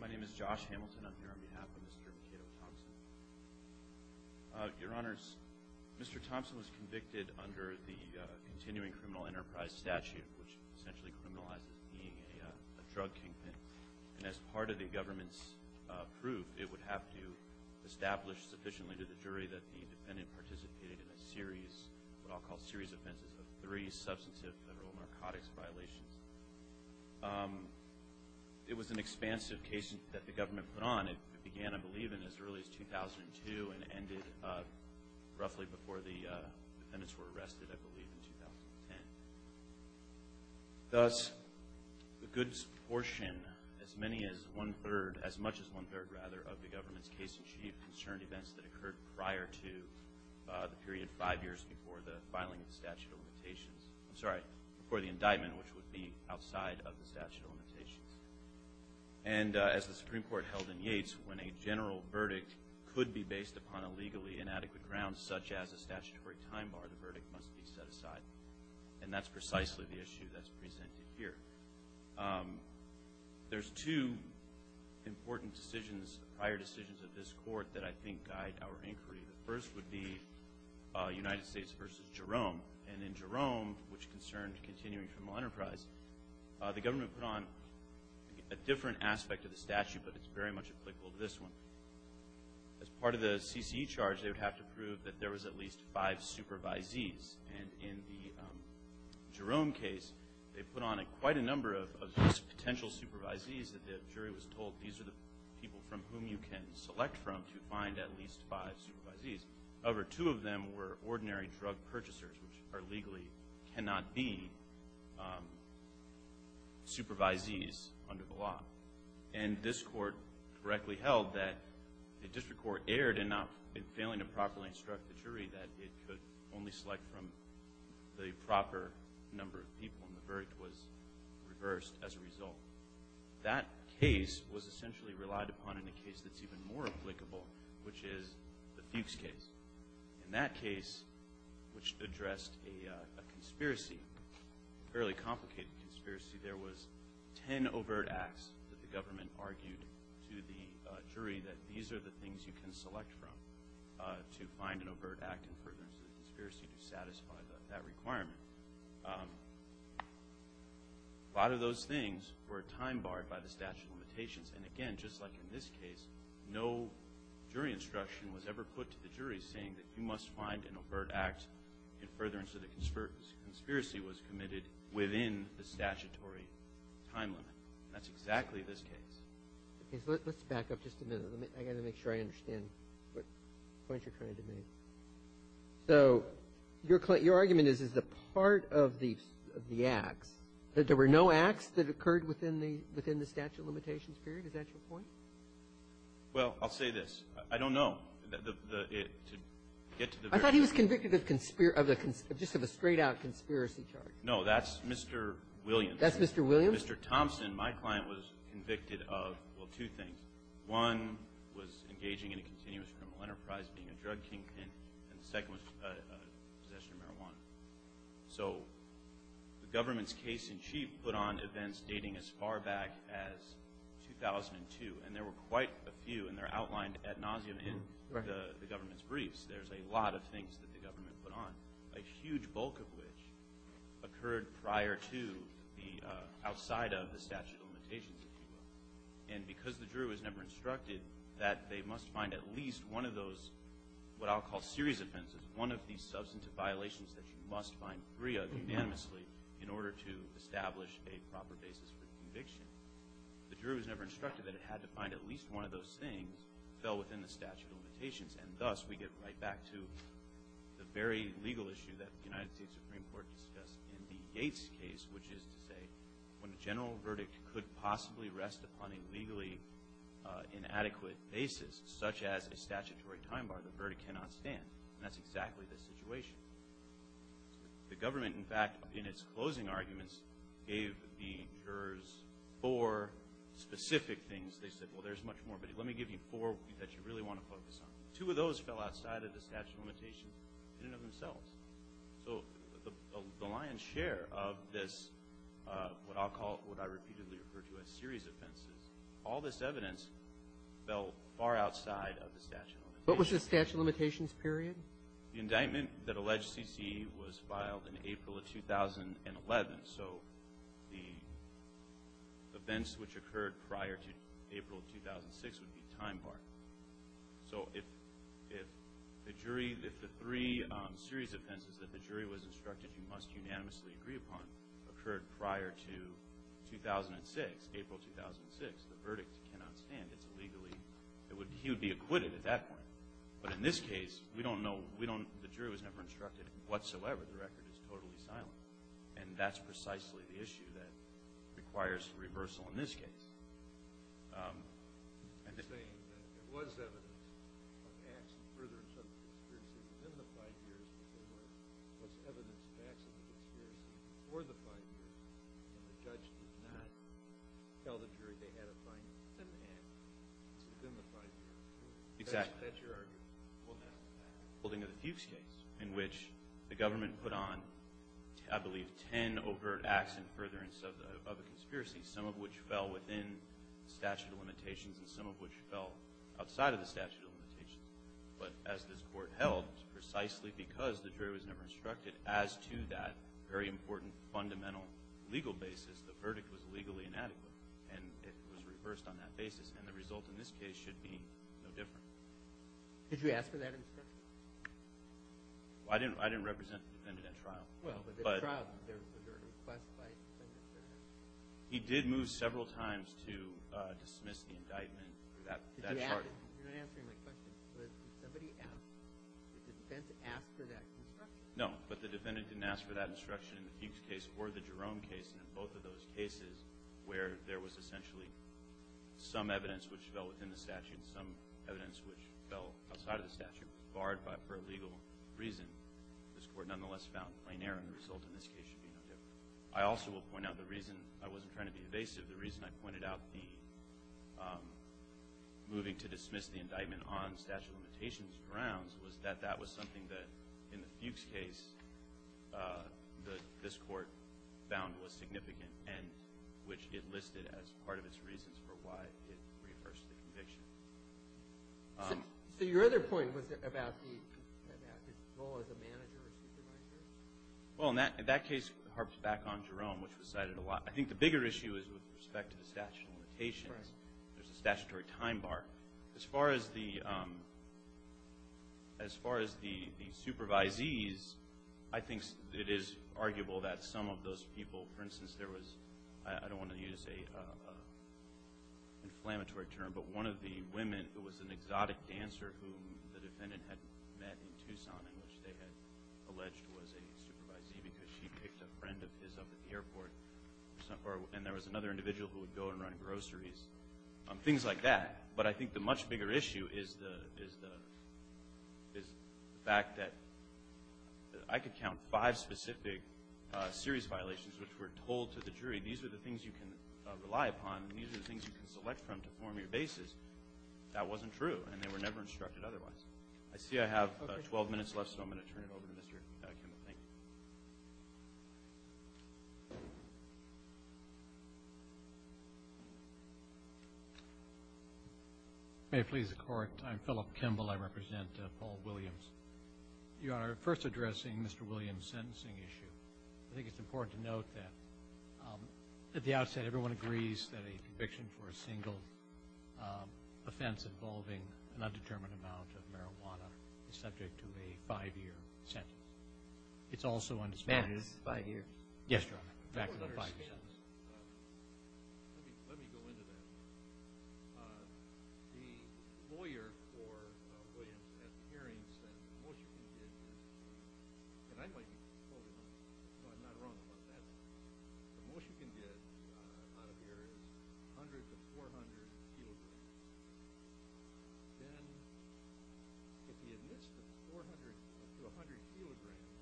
My name is Josh Hamilton. I'm here on behalf of Mr. Kato Thompson. Your Honors, Mr. Thompson was convicted under the continuing criminal enterprise statute, which essentially criminalizes being a drug kingpin. And as part of the government's proof, it would have to establish sufficiently to the jury that the defendant participated in a series of what I'll call a series of offenses of three and an expansive case that the government put on. It began, I believe, in as early as 2002 and ended roughly before the defendants were arrested, I believe, in 2010. Thus, the goods portion, as many as one-third, as much as one-third, rather, of the government's case in chief concerned events that occurred prior to the period five years before the filing of the statute of limitations. I'm sorry, before the indictment, which would be outside of the statute of limitations. And as the Supreme Court held in Yates, when a general verdict could be based upon a legally inadequate ground, such as a statutory time bar, the verdict must be set aside. And that's precisely the issue that's presented here. There's two important decisions, prior decisions of this Court, that I think guide our inquiry. The first would be United States v. Jerome. And in Jerome, which concerned continuing criminal enterprise, the government put on a different aspect of the statute, but it's very much applicable to this one. As part of the CCE charge, they would have to prove that there was at least five supervisees. And in the Jerome case, they put on quite a number of potential supervisees that the jury was told, these are the people from whom you can select from to find at least five supervisees. However, two of them were ordinary drug purchasers, which are legally cannot be supervisees under the law. And this Court correctly held that the district court erred enough in failing to properly instruct the jury that it could only select from the proper number of people, and the verdict was reversed as a result. That case was essentially relied upon in a case that's even more applicable, which is the Fuchs case. In that case, which addressed a conspiracy, a fairly complicated conspiracy, there was ten overt acts that the government argued to the jury that these are the things you can select from to find an overt act in furtherance of the conspiracy to satisfy that requirement. A lot of those things were time barred by the statute of limitations. And again, just like in this case, no jury instruction was ever put to the jury saying that you must find an overt act in furtherance of the conspiracy was committed within the statutory time limit. That's exactly this case. Okay. So let's back up just a minute. I've got to make sure I understand what points you're trying to make. So your argument is, is the part of the acts, that there were no acts that occurred within the statute of limitations period? Is that your point? Well, I'll say this. I don't know. I thought he was convicted of just a straight-out conspiracy charge. No. That's Mr. Williams. That's Mr. Williams? Mr. Thompson, my client, was convicted of, well, two things. One was engaging in a continuous criminal enterprise, being a drug kingpin. And the second was possession of marijuana. So the government's case-in-chief put on events dating as far back as 2002. And there were quite a few, and they're outlined ad nauseam in the government's briefs. There's a lot of things that the government put on, a huge bulk of which occurred prior to the outside of the statute of limitations. And because the juror was never instructed that they must find at least one of those, what I'll call serious offenses, one of these substantive violations that you must find free of unanimously in order to establish a proper basis for conviction, the juror was never instructed that it had to find at least one of those things that fell within the statute of limitations. And thus, we get right back to the very legal issue that the United States Supreme Court discussed in D. Gates' case, which is to say when a general verdict could possibly rest upon a legally inadequate basis, such as a statutory time bar, the verdict cannot stand. And that's exactly the situation. The government, in fact, in its closing arguments, gave the jurors four specific things. They said, well, there's much more, but let me give you four that you really want to focus on. Two of those fell outside of the statute of limitations in and of themselves. So the lion's share of this, what I'll call, what I repeatedly refer to as serious offenses, all this evidence fell far outside of the statute of limitations. What was the statute of limitations period? The indictment that alleged C.C. was filed in April of 2011. So the events which occurred prior to April of 2006 would be time bar. So if the jury, if the three serious offenses that the jury was instructed you must unanimously agree upon occurred prior to 2006, April 2006, the verdict cannot stand. It's illegally, it would, he would be acquitted at that point. But in this case, we don't know, we don't, the jury was never instructed whatsoever. The record is totally silent. And that's precisely the issue that requires reversal in this case. You're saying that there was evidence of acts and furtherance of the conspiracy within the five years and there was evidence of acts of the conspiracy before the five years and the judge did not tell the jury they had a fine within the five years. Exactly. That's your argument. Well, no. In the Fuchs case, in which the government put on, I believe, ten overt acts and furtherance of the conspiracy, some of which fell within statute of limitations and some of which fell outside of the statute of limitations. But as this Court held, precisely because the jury was never instructed, as to that very important fundamental legal basis, the verdict was legally inadequate. And it was reversed on that basis. And the result in this case should be no different. Did you ask for that instruction? I didn't represent the defendant at trial. Well, but at trial there was a request by the defendant. He did move several times to dismiss the indictment. You're not answering my question. But did somebody ask? Did the defendant ask for that instruction? No, but the defendant didn't ask for that instruction in the Fuchs case or the Jerome case and in both of those cases where there was essentially some evidence which fell within the statute and some evidence which fell outside of the statute, barred for a legal reason. This Court nonetheless found plain error. The result in this case should be no different. I also will point out the reason I wasn't trying to be evasive. The reason I pointed out the moving to dismiss the indictment on statute of limitations grounds was that that was something that in the Fuchs case this Court found was significant and which it listed as part of its reasons for why it reversed the conviction. So your other point was about his role as a manager or supervisor. Well, in that case it harps back on Jerome, which was cited a lot. I think the bigger issue is with respect to the statute of limitations. There's a statutory time bar. As far as the supervisees, I think it is arguable that some of those people, for instance, there was, I don't want to use an inflammatory term, but one of the women who was an exotic dancer whom the defendant had met in Tucson and which they had alleged was a supervisee because she picked a friend of his up at the airport, and there was another individual who would go and run groceries, things like that. But I think the much bigger issue is the fact that I could count five specific serious violations which were told to the jury, these are the things you can rely upon and these are the things you can select from to form your basis. That wasn't true, and they were never instructed otherwise. I see I have 12 minutes left, so I'm going to turn it over to Mr. Kimball. Thank you. May it please the Court. I'm Philip Kimball. I represent Paul Williams. Your Honor, first addressing Mr. Williams' sentencing issue, I think it's important to note that at the outset everyone agrees that a conviction for a single offense involving an undetermined amount of marijuana is subject to a five-year sentence. It's also undisputed. Five years? Yes, Your Honor, back to the five-year sentence. Let me go into that. The lawyer for Williams at the hearing said the most you can get out of here is 100 to 400 kilograms. Then if the administrator, 400 to 100 kilograms,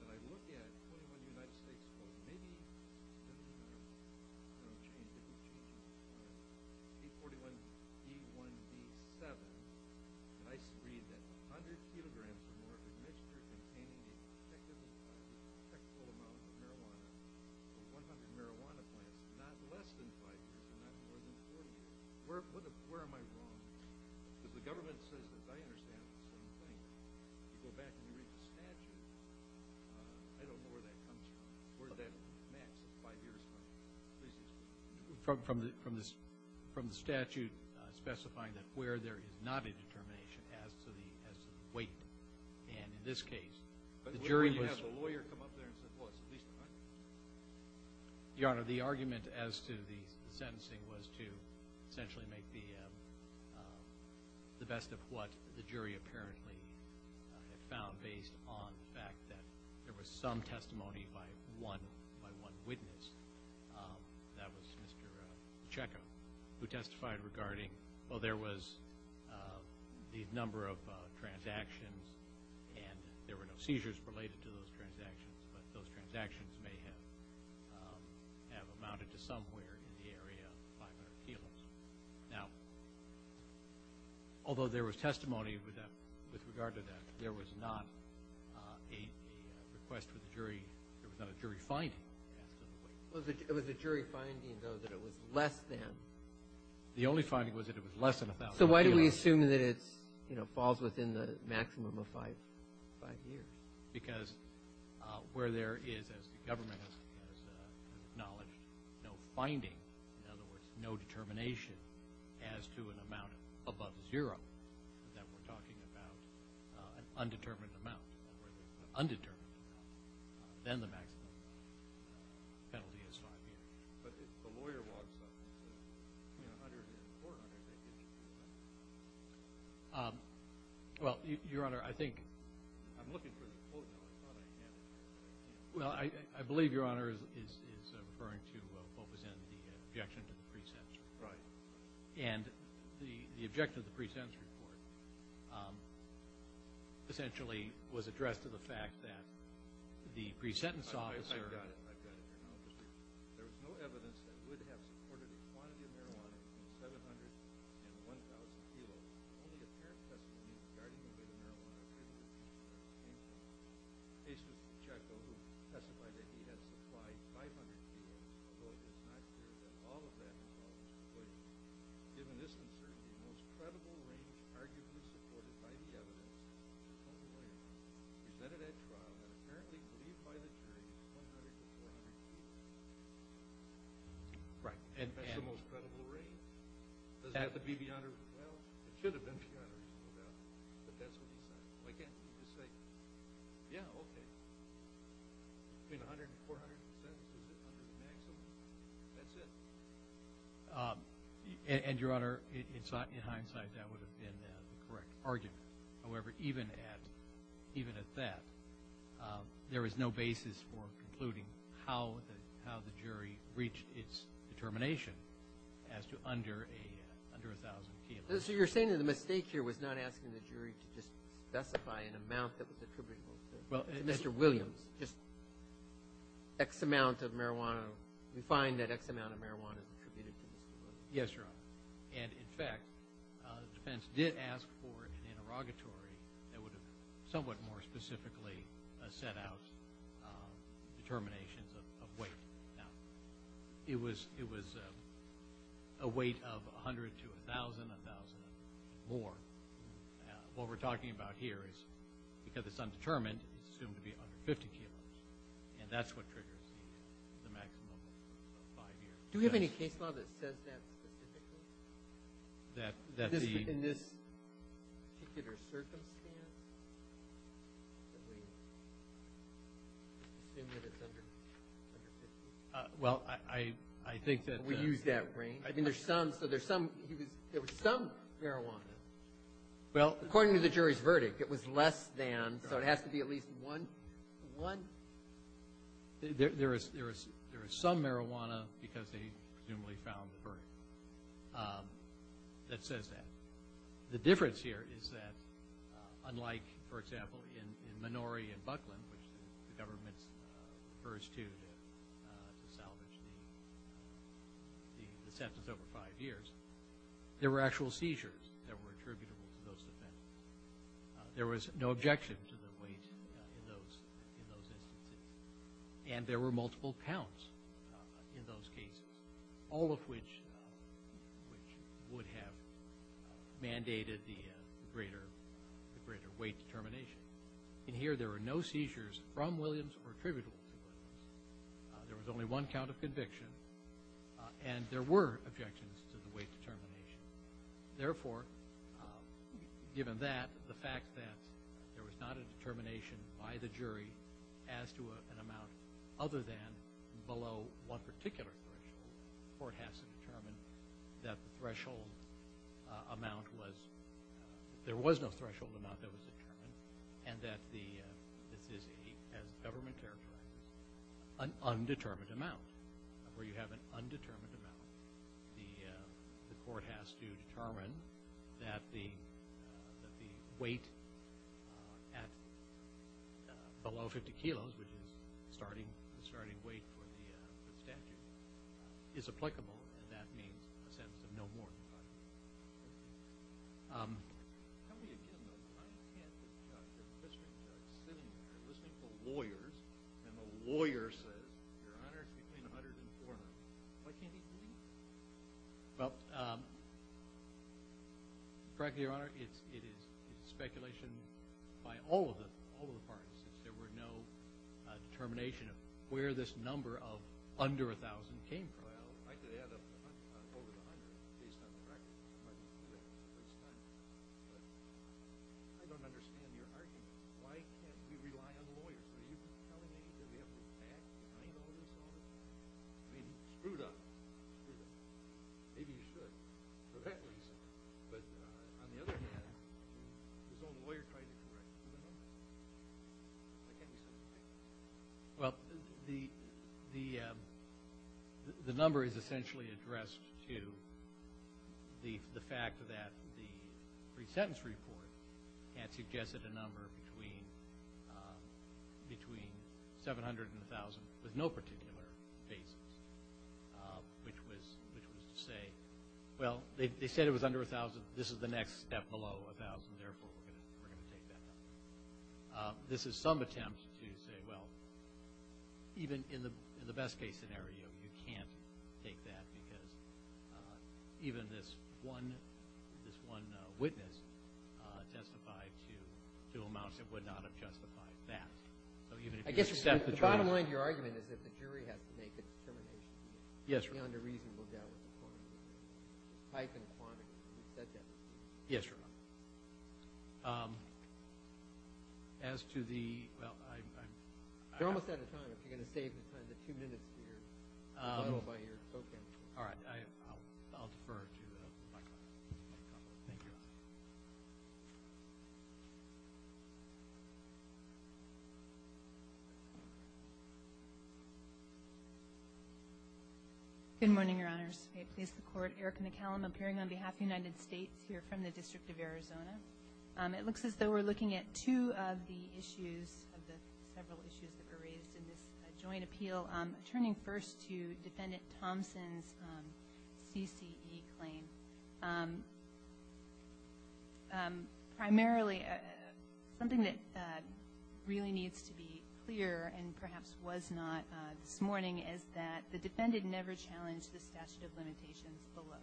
and I look at 21 United States Codes, maybe it'll change, it'll change. B41E1B7, and I read that 100 kilograms or more of the administrator containing the detectable amount of marijuana, 100 marijuana plants, not less than five years, not more than four years. Where am I wrong? Because the government says that, as I understand it, it's the same thing. You go back and you read the statute, I don't know where that comes from. Where did that match the five-year sentence? From the statute specifying that where there is not a determination as to the weight. And in this case, the jury was – But what if you have a lawyer come up there and say, well, it's at least 100? Your Honor, the argument as to the sentencing was to essentially make the best of what the jury apparently found based on the fact that there was some testimony by one witness. That was Mr. Pacheco, who testified regarding, well, there was the number of transactions and there were no seizures related to those transactions, but those transactions may have amounted to somewhere in the area of 500 kilograms. Now, although there was testimony with regard to that, there was not a request for the jury. There was not a jury finding as to the weight. It was a jury finding, though, that it was less than. The only finding was that it was less than 1,000 kilograms. So why do we assume that it falls within the maximum of five years? Because where there is, as the government has acknowledged, no finding, in other words, no determination as to an amount above zero, then we're talking about an undetermined amount. And where there's an undetermined amount, then the maximum penalty is five years. But if the lawyer walks up and says, you know, under the court order, they didn't do that. Well, Your Honor, I think— I'm looking for the quote now. I thought I had it. Well, I believe Your Honor is referring to what was in the objection to the pre-sentence report. Right. And the objection to the pre-sentence report essentially was addressed to the fact that the pre-sentence officer— I've got it. I've got it here now. There was no evidence that Wood had supported a quantity of marijuana between 700 and 1,000 kilos. Only apparent testimony regarding the weight of marijuana could have been made to this extent. A. C. Pacheco, who testified that he had supplied 500 kilos, though it is not clear that all of that involves Wood. Given this uncertainty, the most credible range, arguably supported by the evidence, presented at trial that apparently believed by the jury it was 100 to 400 kilos. Right. That's the most credible range. It doesn't have to be beyond or—well, it should have been beyond or equal to that. But that's what he said. Why can't you just say, yeah, okay, between 100 and 400 percent? Is it 100 to the maximum? That's it. And, Your Honor, in hindsight, that would have been the correct argument. However, even at that, there is no basis for concluding how the jury reached its determination as to under 1,000 kilos. So you're saying that the mistake here was not asking the jury to just specify an amount that was attributable to Mr. Williams, just X amount of marijuana. We find that X amount of marijuana is attributed to Mr. Williams. Yes, Your Honor. And, in fact, the defense did ask for an interrogatory that would have somewhat more specifically set out determinations of weight. Now, it was a weight of 100 to 1,000, 1,000 and more. What we're talking about here is because it's undetermined, it's assumed to be under 50 kilos. And that's what triggers the maximum of five years. Do we have any case law that says that specifically? That the — In this particular circumstance, that we assume that it's under 50? Well, I think that — We use that range. I mean, there's some — so there's some — there was some marijuana. Well — According to the jury's verdict, it was less than, so it has to be at least one — one — There is some marijuana, because they presumably found the verdict, that says that. The difference here is that, unlike, for example, in Minori and Buckland, which the government refers to to salvage the sentence over five years, there were actual seizures that were attributable to those defendants. There was no objection to the weight in those instances, and there were multiple counts in those cases, all of which would have mandated the greater weight determination. In here, there were no seizures from Williams or attributable to Williams. There was only one count of conviction, and there were objections to the weight determination. Therefore, given that, the fact that there was not a determination by the jury as to an amount other than below one particular threshold, the court has to determine that the threshold amount was — there was no threshold amount that was determined, and that the — this is, as the government characterizes it, an undetermined amount. Where you have an undetermined amount, the court has to determine that the weight at below 50 kilos, which is the starting weight for the statute, is applicable, and that means a sentence of no more than five years. Tell me again, though, why can't the district judge sitting there listening to lawyers, and the lawyer says, Your Honor, it's between 100 and 400. Why can't he believe that? Well, frankly, Your Honor, it is speculation by all of the parties. There were no determination of where this number of under 1,000 came from. Well, I could add up over the hundred based on the record. I don't understand your argument. Why can't we rely on lawyers? Are you telling me that we have to act behind all this? I mean, screw that. Maybe you should, for that reason. But on the other hand, his own lawyer tried to correct him. Why can't we send him back? Well, the number is essentially addressed to the fact that the pre-sentence report had suggested a number between 700 and 1,000 with no particular basis, which was to say, well, they said it was under 1,000. This is the next step below 1,000. Therefore, we're going to take that number. This is some attempt to say, well, even in the best-case scenario, you can't take that because even this one witness testified to amounts that would not have justified that. I guess the bottom line of your argument is that the jury has to make a determination. Yes, Your Honor. Yes, Your Honor. As to the ‑‑ You're almost out of time. If you're going to save the time, the two minutes here are followed by your spoken. All right. I'll defer to Michael. Thank you. Good morning, Your Honors. May it please the Court. Erica McCallum appearing on behalf of the United States here from the District of Arizona. It looks as though we're looking at two of the issues, of the several issues that were raised in this joint appeal. Turning first to Defendant Thompson's CCE claim, primarily something that really needs to be clear and perhaps was not this morning is that the defendant never challenged the statute of limitations below.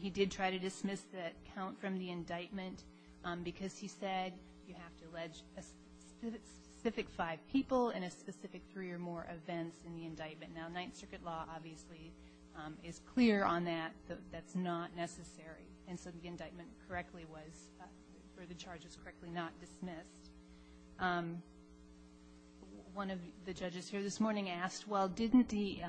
He did try to dismiss the count from the indictment because he said you have to allege a specific five people and a specific three or more events in the indictment. Now, Ninth Circuit law obviously is clear on that. That's not necessary. And so the indictment correctly was, or the charge was correctly not dismissed. One of the judges here this morning asked, well, didn't the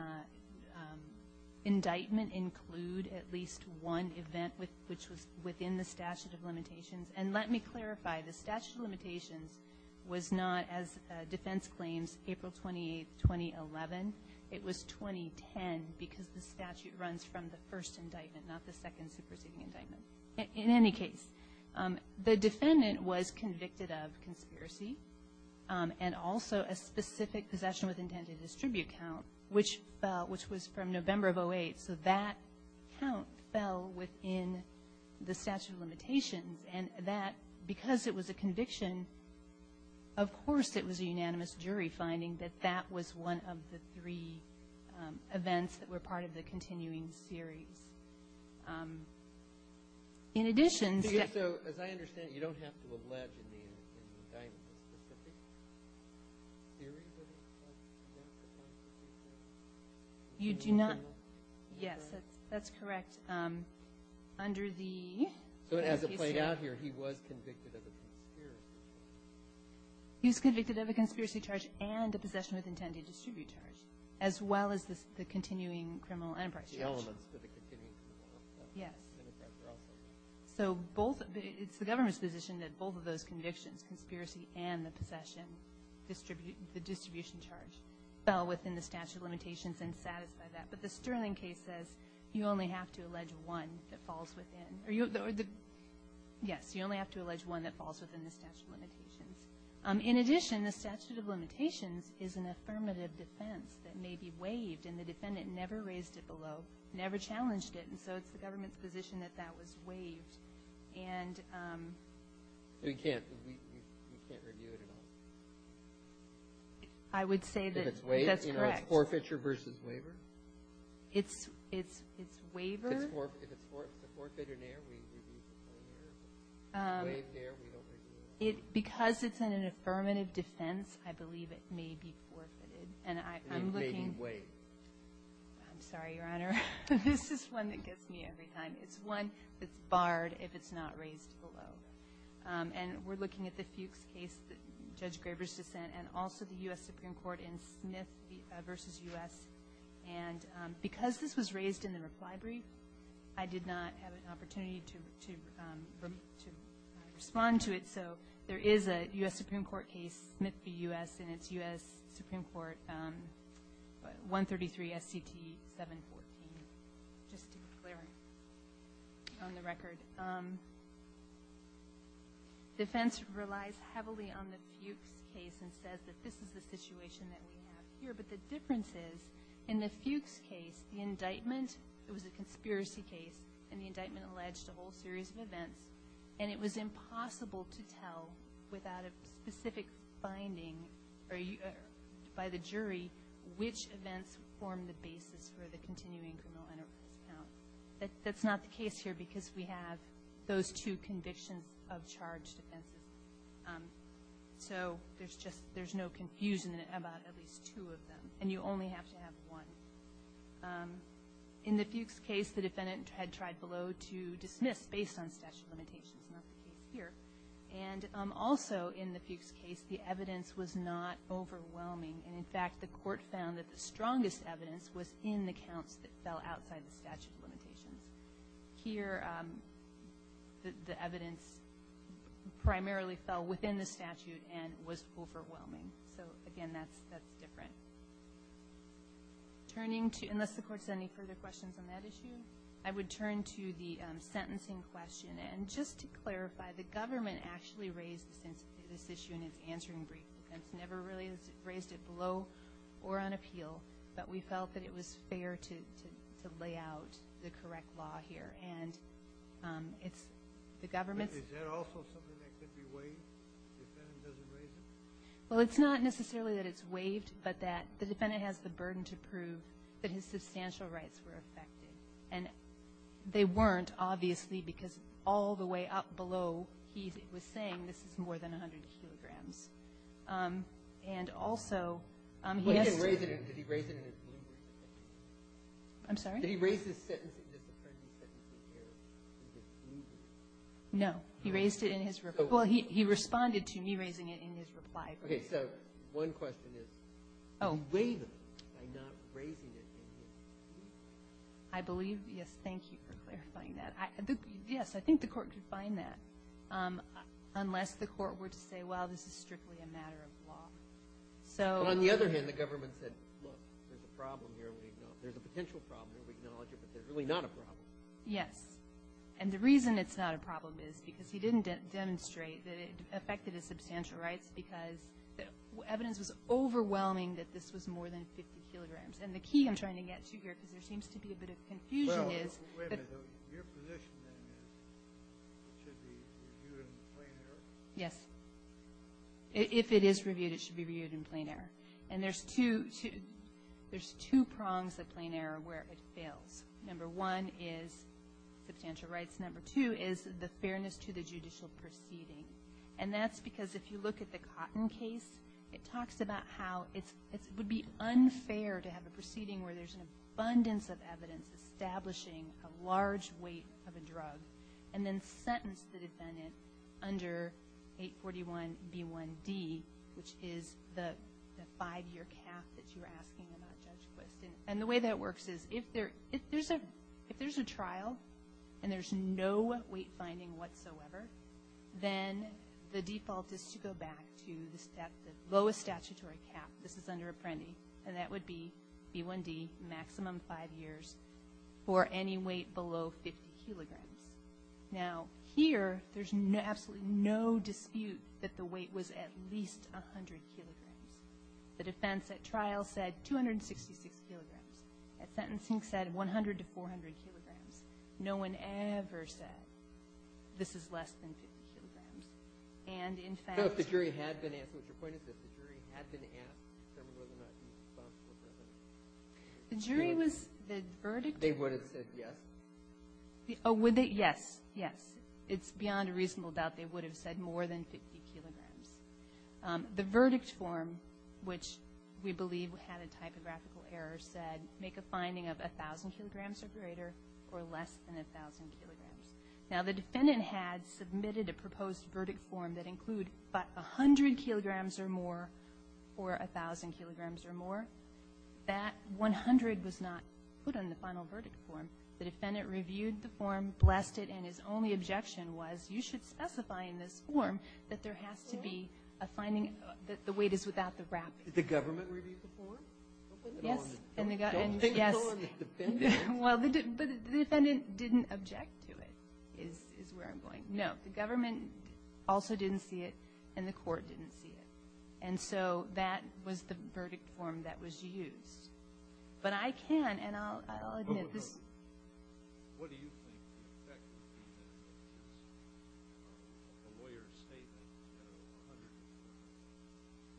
indictment include at least one event which was within the statute of limitations? And let me clarify. The statute of limitations was not, as defense claims, April 28, 2011. It was 2010 because the statute runs from the first indictment, not the second superseding indictment. In any case, the defendant was convicted of conspiracy and also a specific possession with intent to distribute count, which fell, which was from November of 08. So that count fell within the statute of limitations. And that, because it was a conviction, of course it was a unanimous jury finding that that was one of the three events that were part of the continuing series. In addition to that ---- Kennedy. So as I understand it, you don't have to allege in the indictment a specific series of events that were part of the series of events. You do not. Yes, that's correct. Under the case here ---- So as it played out here, he was convicted of a conspiracy. He was convicted of a conspiracy charge and a possession with intent to distribute charge, as well as the continuing criminal enterprise charge. The elements of the continuing criminal enterprise were also ---- Yes. So both of the ---- it's the government's position that both of those convictions, conspiracy and the possession, the distribution charge, fell within the statute of limitations and satisfy that. But the Sterling case says you only have to allege one that falls within. Yes, you only have to allege one that falls within the statute of limitations. In addition, the statute of limitations is an affirmative defense that may be waived, and the defendant never raised it below, never challenged it. And so it's the government's position that that was waived. And ---- We can't review it at all. I would say that's correct. If it's waived, it's forfeiture versus waiver? It's waiver. If it's forfeiture and air, we review it. If it's waived and air, we don't review it. Because it's an affirmative defense, I believe it may be forfeited. And I'm looking ---- It may be waived. I'm sorry, Your Honor. This is one that gets me every time. It's one that's barred if it's not raised below. And we're looking at the Fuchs case, Judge Graber's dissent, and also the U.S. Supreme Court in Smith v. U.S. And because this was raised in the reply brief, I did not have an opportunity to respond to it. So there is a U.S. Supreme Court case, Smith v. U.S., in its U.S. Supreme Court, 133 S.C.T. 714, just to be clear on the record. Defense relies heavily on the Fuchs case and says that this is the situation that we have here. But the difference is, in the Fuchs case, the indictment, it was a conspiracy case, and the indictment alleged a whole series of events. And it was impossible to tell without a specific finding by the jury which events formed the basis for the continuing criminal enterprise count. That's not the case here because we have those two convictions of charged offenses. So there's just no confusion about at least two of them. And you only have to have one. In the Fuchs case, the defendant had tried below to dismiss based on statute of limitations. That's not the case here. And also in the Fuchs case, the evidence was not overwhelming. And, in fact, the Court found that the strongest evidence was in the counts that fell outside the statute of limitations. Here, the evidence primarily fell within the statute and was overwhelming. So, again, that's different. Unless the Court has any further questions on that issue, I would turn to the sentencing question. And just to clarify, the government actually raised this issue in its answering brief defense, never really raised it below or on appeal. But we felt that it was fair to lay out the correct law here. And it's the government's ---- Is there also something that could be waived if the defendant doesn't raise it? Well, it's not necessarily that it's waived, but that the defendant has the burden to prove that his substantial rights were affected. And they weren't, obviously, because all the way up below, he was saying this is more than 100 kilograms. And also, he has to ---- Well, he didn't raise it. Did he raise it in his ruling? I'm sorry? Did he raise his sentencing, his appropriate sentencing here in his ruling? No. He raised it in his ---- Well, he responded to me raising it in his reply. Okay. So one question is, is it waived by not raising it in his ruling? I believe, yes. Thank you for clarifying that. Yes, I think the Court could find that. Unless the Court were to say, well, this is strictly a matter of law. So ---- Well, on the other hand, the government said, look, there's a problem here. There's a potential problem here. We acknowledge it, but it's really not a problem. Yes. And the reason it's not a problem is because he didn't demonstrate that it affected his substantial rights because evidence was overwhelming that this was more than 50 kilograms. And the key I'm trying to get to here, because there seems to be a bit of confusion, is ---- Wait a minute. Your position then is it should be reviewed in plain error? Yes. If it is reviewed, it should be reviewed in plain error. And there's two ---- there's two prongs of plain error where it fails. Number one is substantial rights. Number two is the fairness to the judicial proceeding. And that's because if you look at the Cotton case, it talks about how it's ---- it would be unfair to have a proceeding where there's an abundance of evidence establishing a large weight of a drug and then sentence the defendant under 841B1D, which is the five-year cap that you're asking about, Judge Quist. And the way that works is if there's a trial and there's no weight finding whatsoever, then the default is to go back to the lowest statutory cap. This is under Apprendi. And that would be B1D, maximum five years, for any weight below 50 kilograms. Now, here, there's absolutely no dispute that the weight was at least 100 kilograms. The defense at trial said 266 kilograms. At sentencing said 100 to 400 kilograms. No one ever said this is less than 50 kilograms. And in fact ---- The jury had been asked, which your point is that the jury had been asked, the jury was not responsible for this. The jury was ---- The verdict ---- They would have said yes? Oh, would they? Yes. Yes. It's beyond a reasonable doubt they would have said more than 50 kilograms. The verdict form, which we believe had a typographical error, said make a finding of 1,000 kilograms or greater or less than 1,000 kilograms. Now, the defendant had submitted a proposed verdict form that include 100 kilograms or more or 1,000 kilograms or more. That 100 was not put on the final verdict form. The defendant reviewed the form, blessed it, and his only objection was you should specify in this form that there has to be a finding that the weight is without the wrapping. Did the government review the form? Yes. Don't think it's on the defendant. Well, the defendant didn't object to it is where I'm going. No. The government also didn't see it, and the court didn't see it. And so that was the verdict form that was used. But I can, and I'll admit this. What do you think the effect would be if a lawyer's statement was 100 kilograms?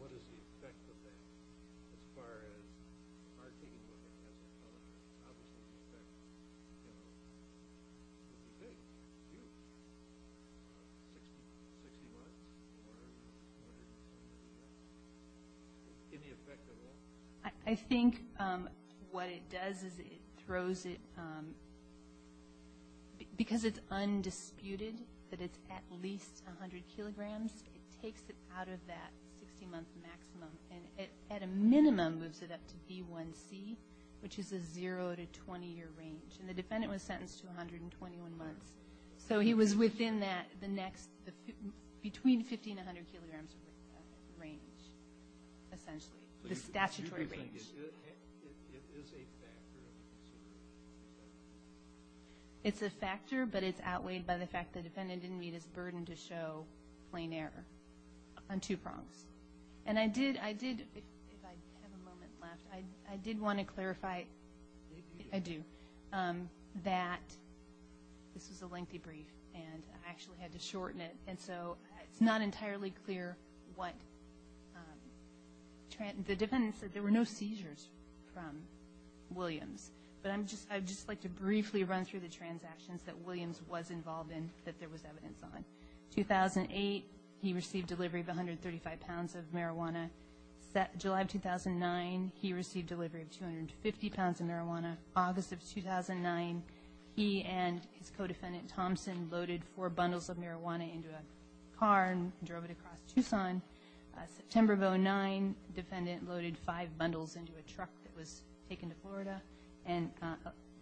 What is the effect of that as far as marking what it has to cover? How much would it affect the defendant? Do you think? Do you? 60 pounds? 60 pounds? Or 100 kilograms? Any effect at all? I think what it does is it throws it, because it's undisputed that it's at least 100 kilograms, it takes it out of that 60-month maximum, and it, at a minimum, moves it up to B1c, which is a zero to 20-year range. And the defendant was sentenced to 121 months. So he was within that, the next, between 50 and 100 kilograms range, essentially. The statutory range. It is a factor? It's a factor, but it's outweighed by the fact the defendant didn't meet his burden to show plain error on two prongs. And I did, if I have a moment left, I did want to clarify. I do. That this was a lengthy brief, and I actually had to shorten it, and so it's not entirely clear what, the defendant said there were no seizures from Williams. But I'd just like to briefly run through the transactions that Williams was involved in that there was evidence on. 2008, he received delivery of 135 pounds of marijuana. July of 2009, he received delivery of 250 pounds of marijuana. August of 2009, he and his co-defendant, Thompson, loaded four bundles of marijuana into a car and drove it across Tucson. September of 2009, defendant loaded five bundles into a truck that was taken to Florida. And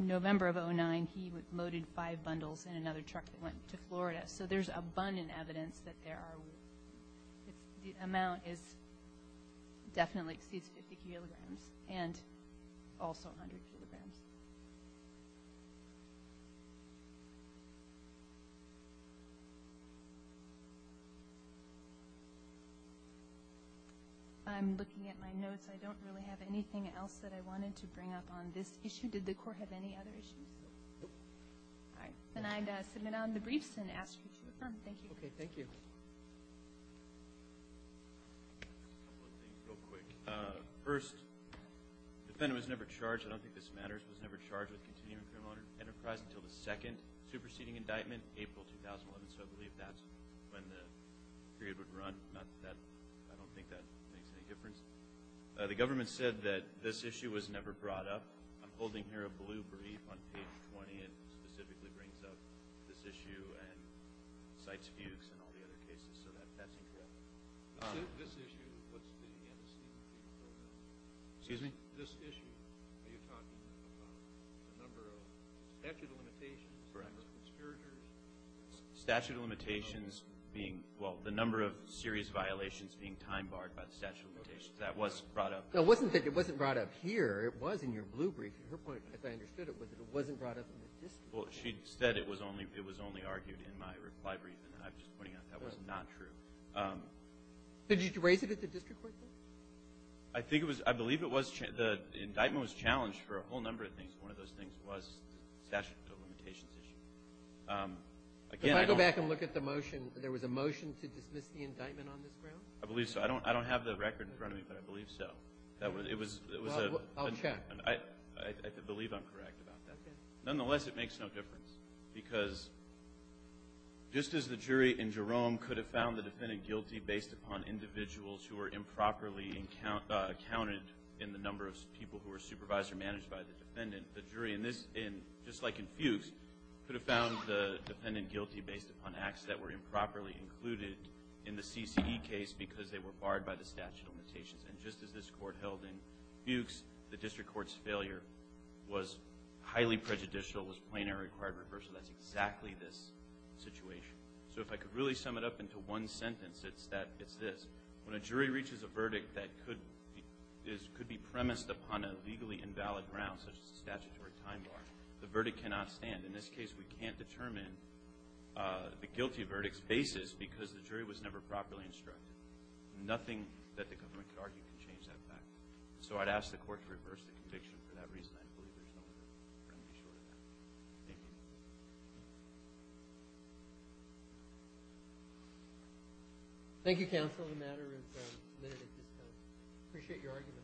November of 2009, he loaded five bundles in another truck that went to Florida. So there's abundant evidence that there are, The amount is, definitely exceeds 50 kilograms, and also 100 kilograms. I'm looking at my notes. I don't really have anything else that I wanted to bring up on this issue. Did the court have any other issues? No. All right. Then I submit on the briefs and ask you to adjourn. Thank you. Okay, thank you. First, the defendant was never charged. I don't think this matters. He was never charged with continuing criminal enterprise until the second superseding indictment, April 2011. So I believe that's when the period would run. I don't think that makes any difference. The government said that this issue was never brought up. I'm holding here a blue brief on page 20. It specifically brings up this issue and cites fugues in all the other cases, so that's incorrect. Excuse me? This issue, are you talking about the number of statute of limitations for conspirators? Statute of limitations being, well, the number of serious violations being time-barred by the statute of limitations. That was brought up. No, it wasn't that it wasn't brought up here. It was in your blue brief. Her point, as I understood it, was that it wasn't brought up in the district. Well, she said it was only argued in my reply brief, and I'm just pointing out that was not true. Did you raise it at the district court, then? I think it was – I believe it was – the indictment was challenged for a whole number of things. One of those things was the statute of limitations issue. Again, I don't – Can I go back and look at the motion? There was a motion to dismiss the indictment on this ground? I believe so. I don't have the record in front of me, but I believe so. It was a – Well, I'll check. I believe I'm correct about that. Okay. Nonetheless, it makes no difference because just as the jury in Jerome could have found the defendant guilty based upon individuals who were improperly accounted in the number of people who were supervised or managed by the defendant, the jury in this – just like in Fuchs could have found the defendant guilty based upon acts that were improperly included in the CCE case because they were barred by the statute of limitations. And just as this court held in Fuchs, the district court's failure was highly prejudicial, was plain and required reversal. That's exactly this situation. So if I could really sum it up into one sentence, it's that – it's this. When a jury reaches a verdict that could be premised upon a legally invalid ground, such as a statutory time bar, the verdict cannot stand. In this case, we can't determine the guilty verdict's basis because the jury was never properly instructed. Nothing that the government could argue could change that fact. So I'd ask the court to reverse the conviction. For that reason, I believe there's no other remedy short of that. Thank you. Thank you, counsel. The matter is submitted at this time. Appreciate your argument.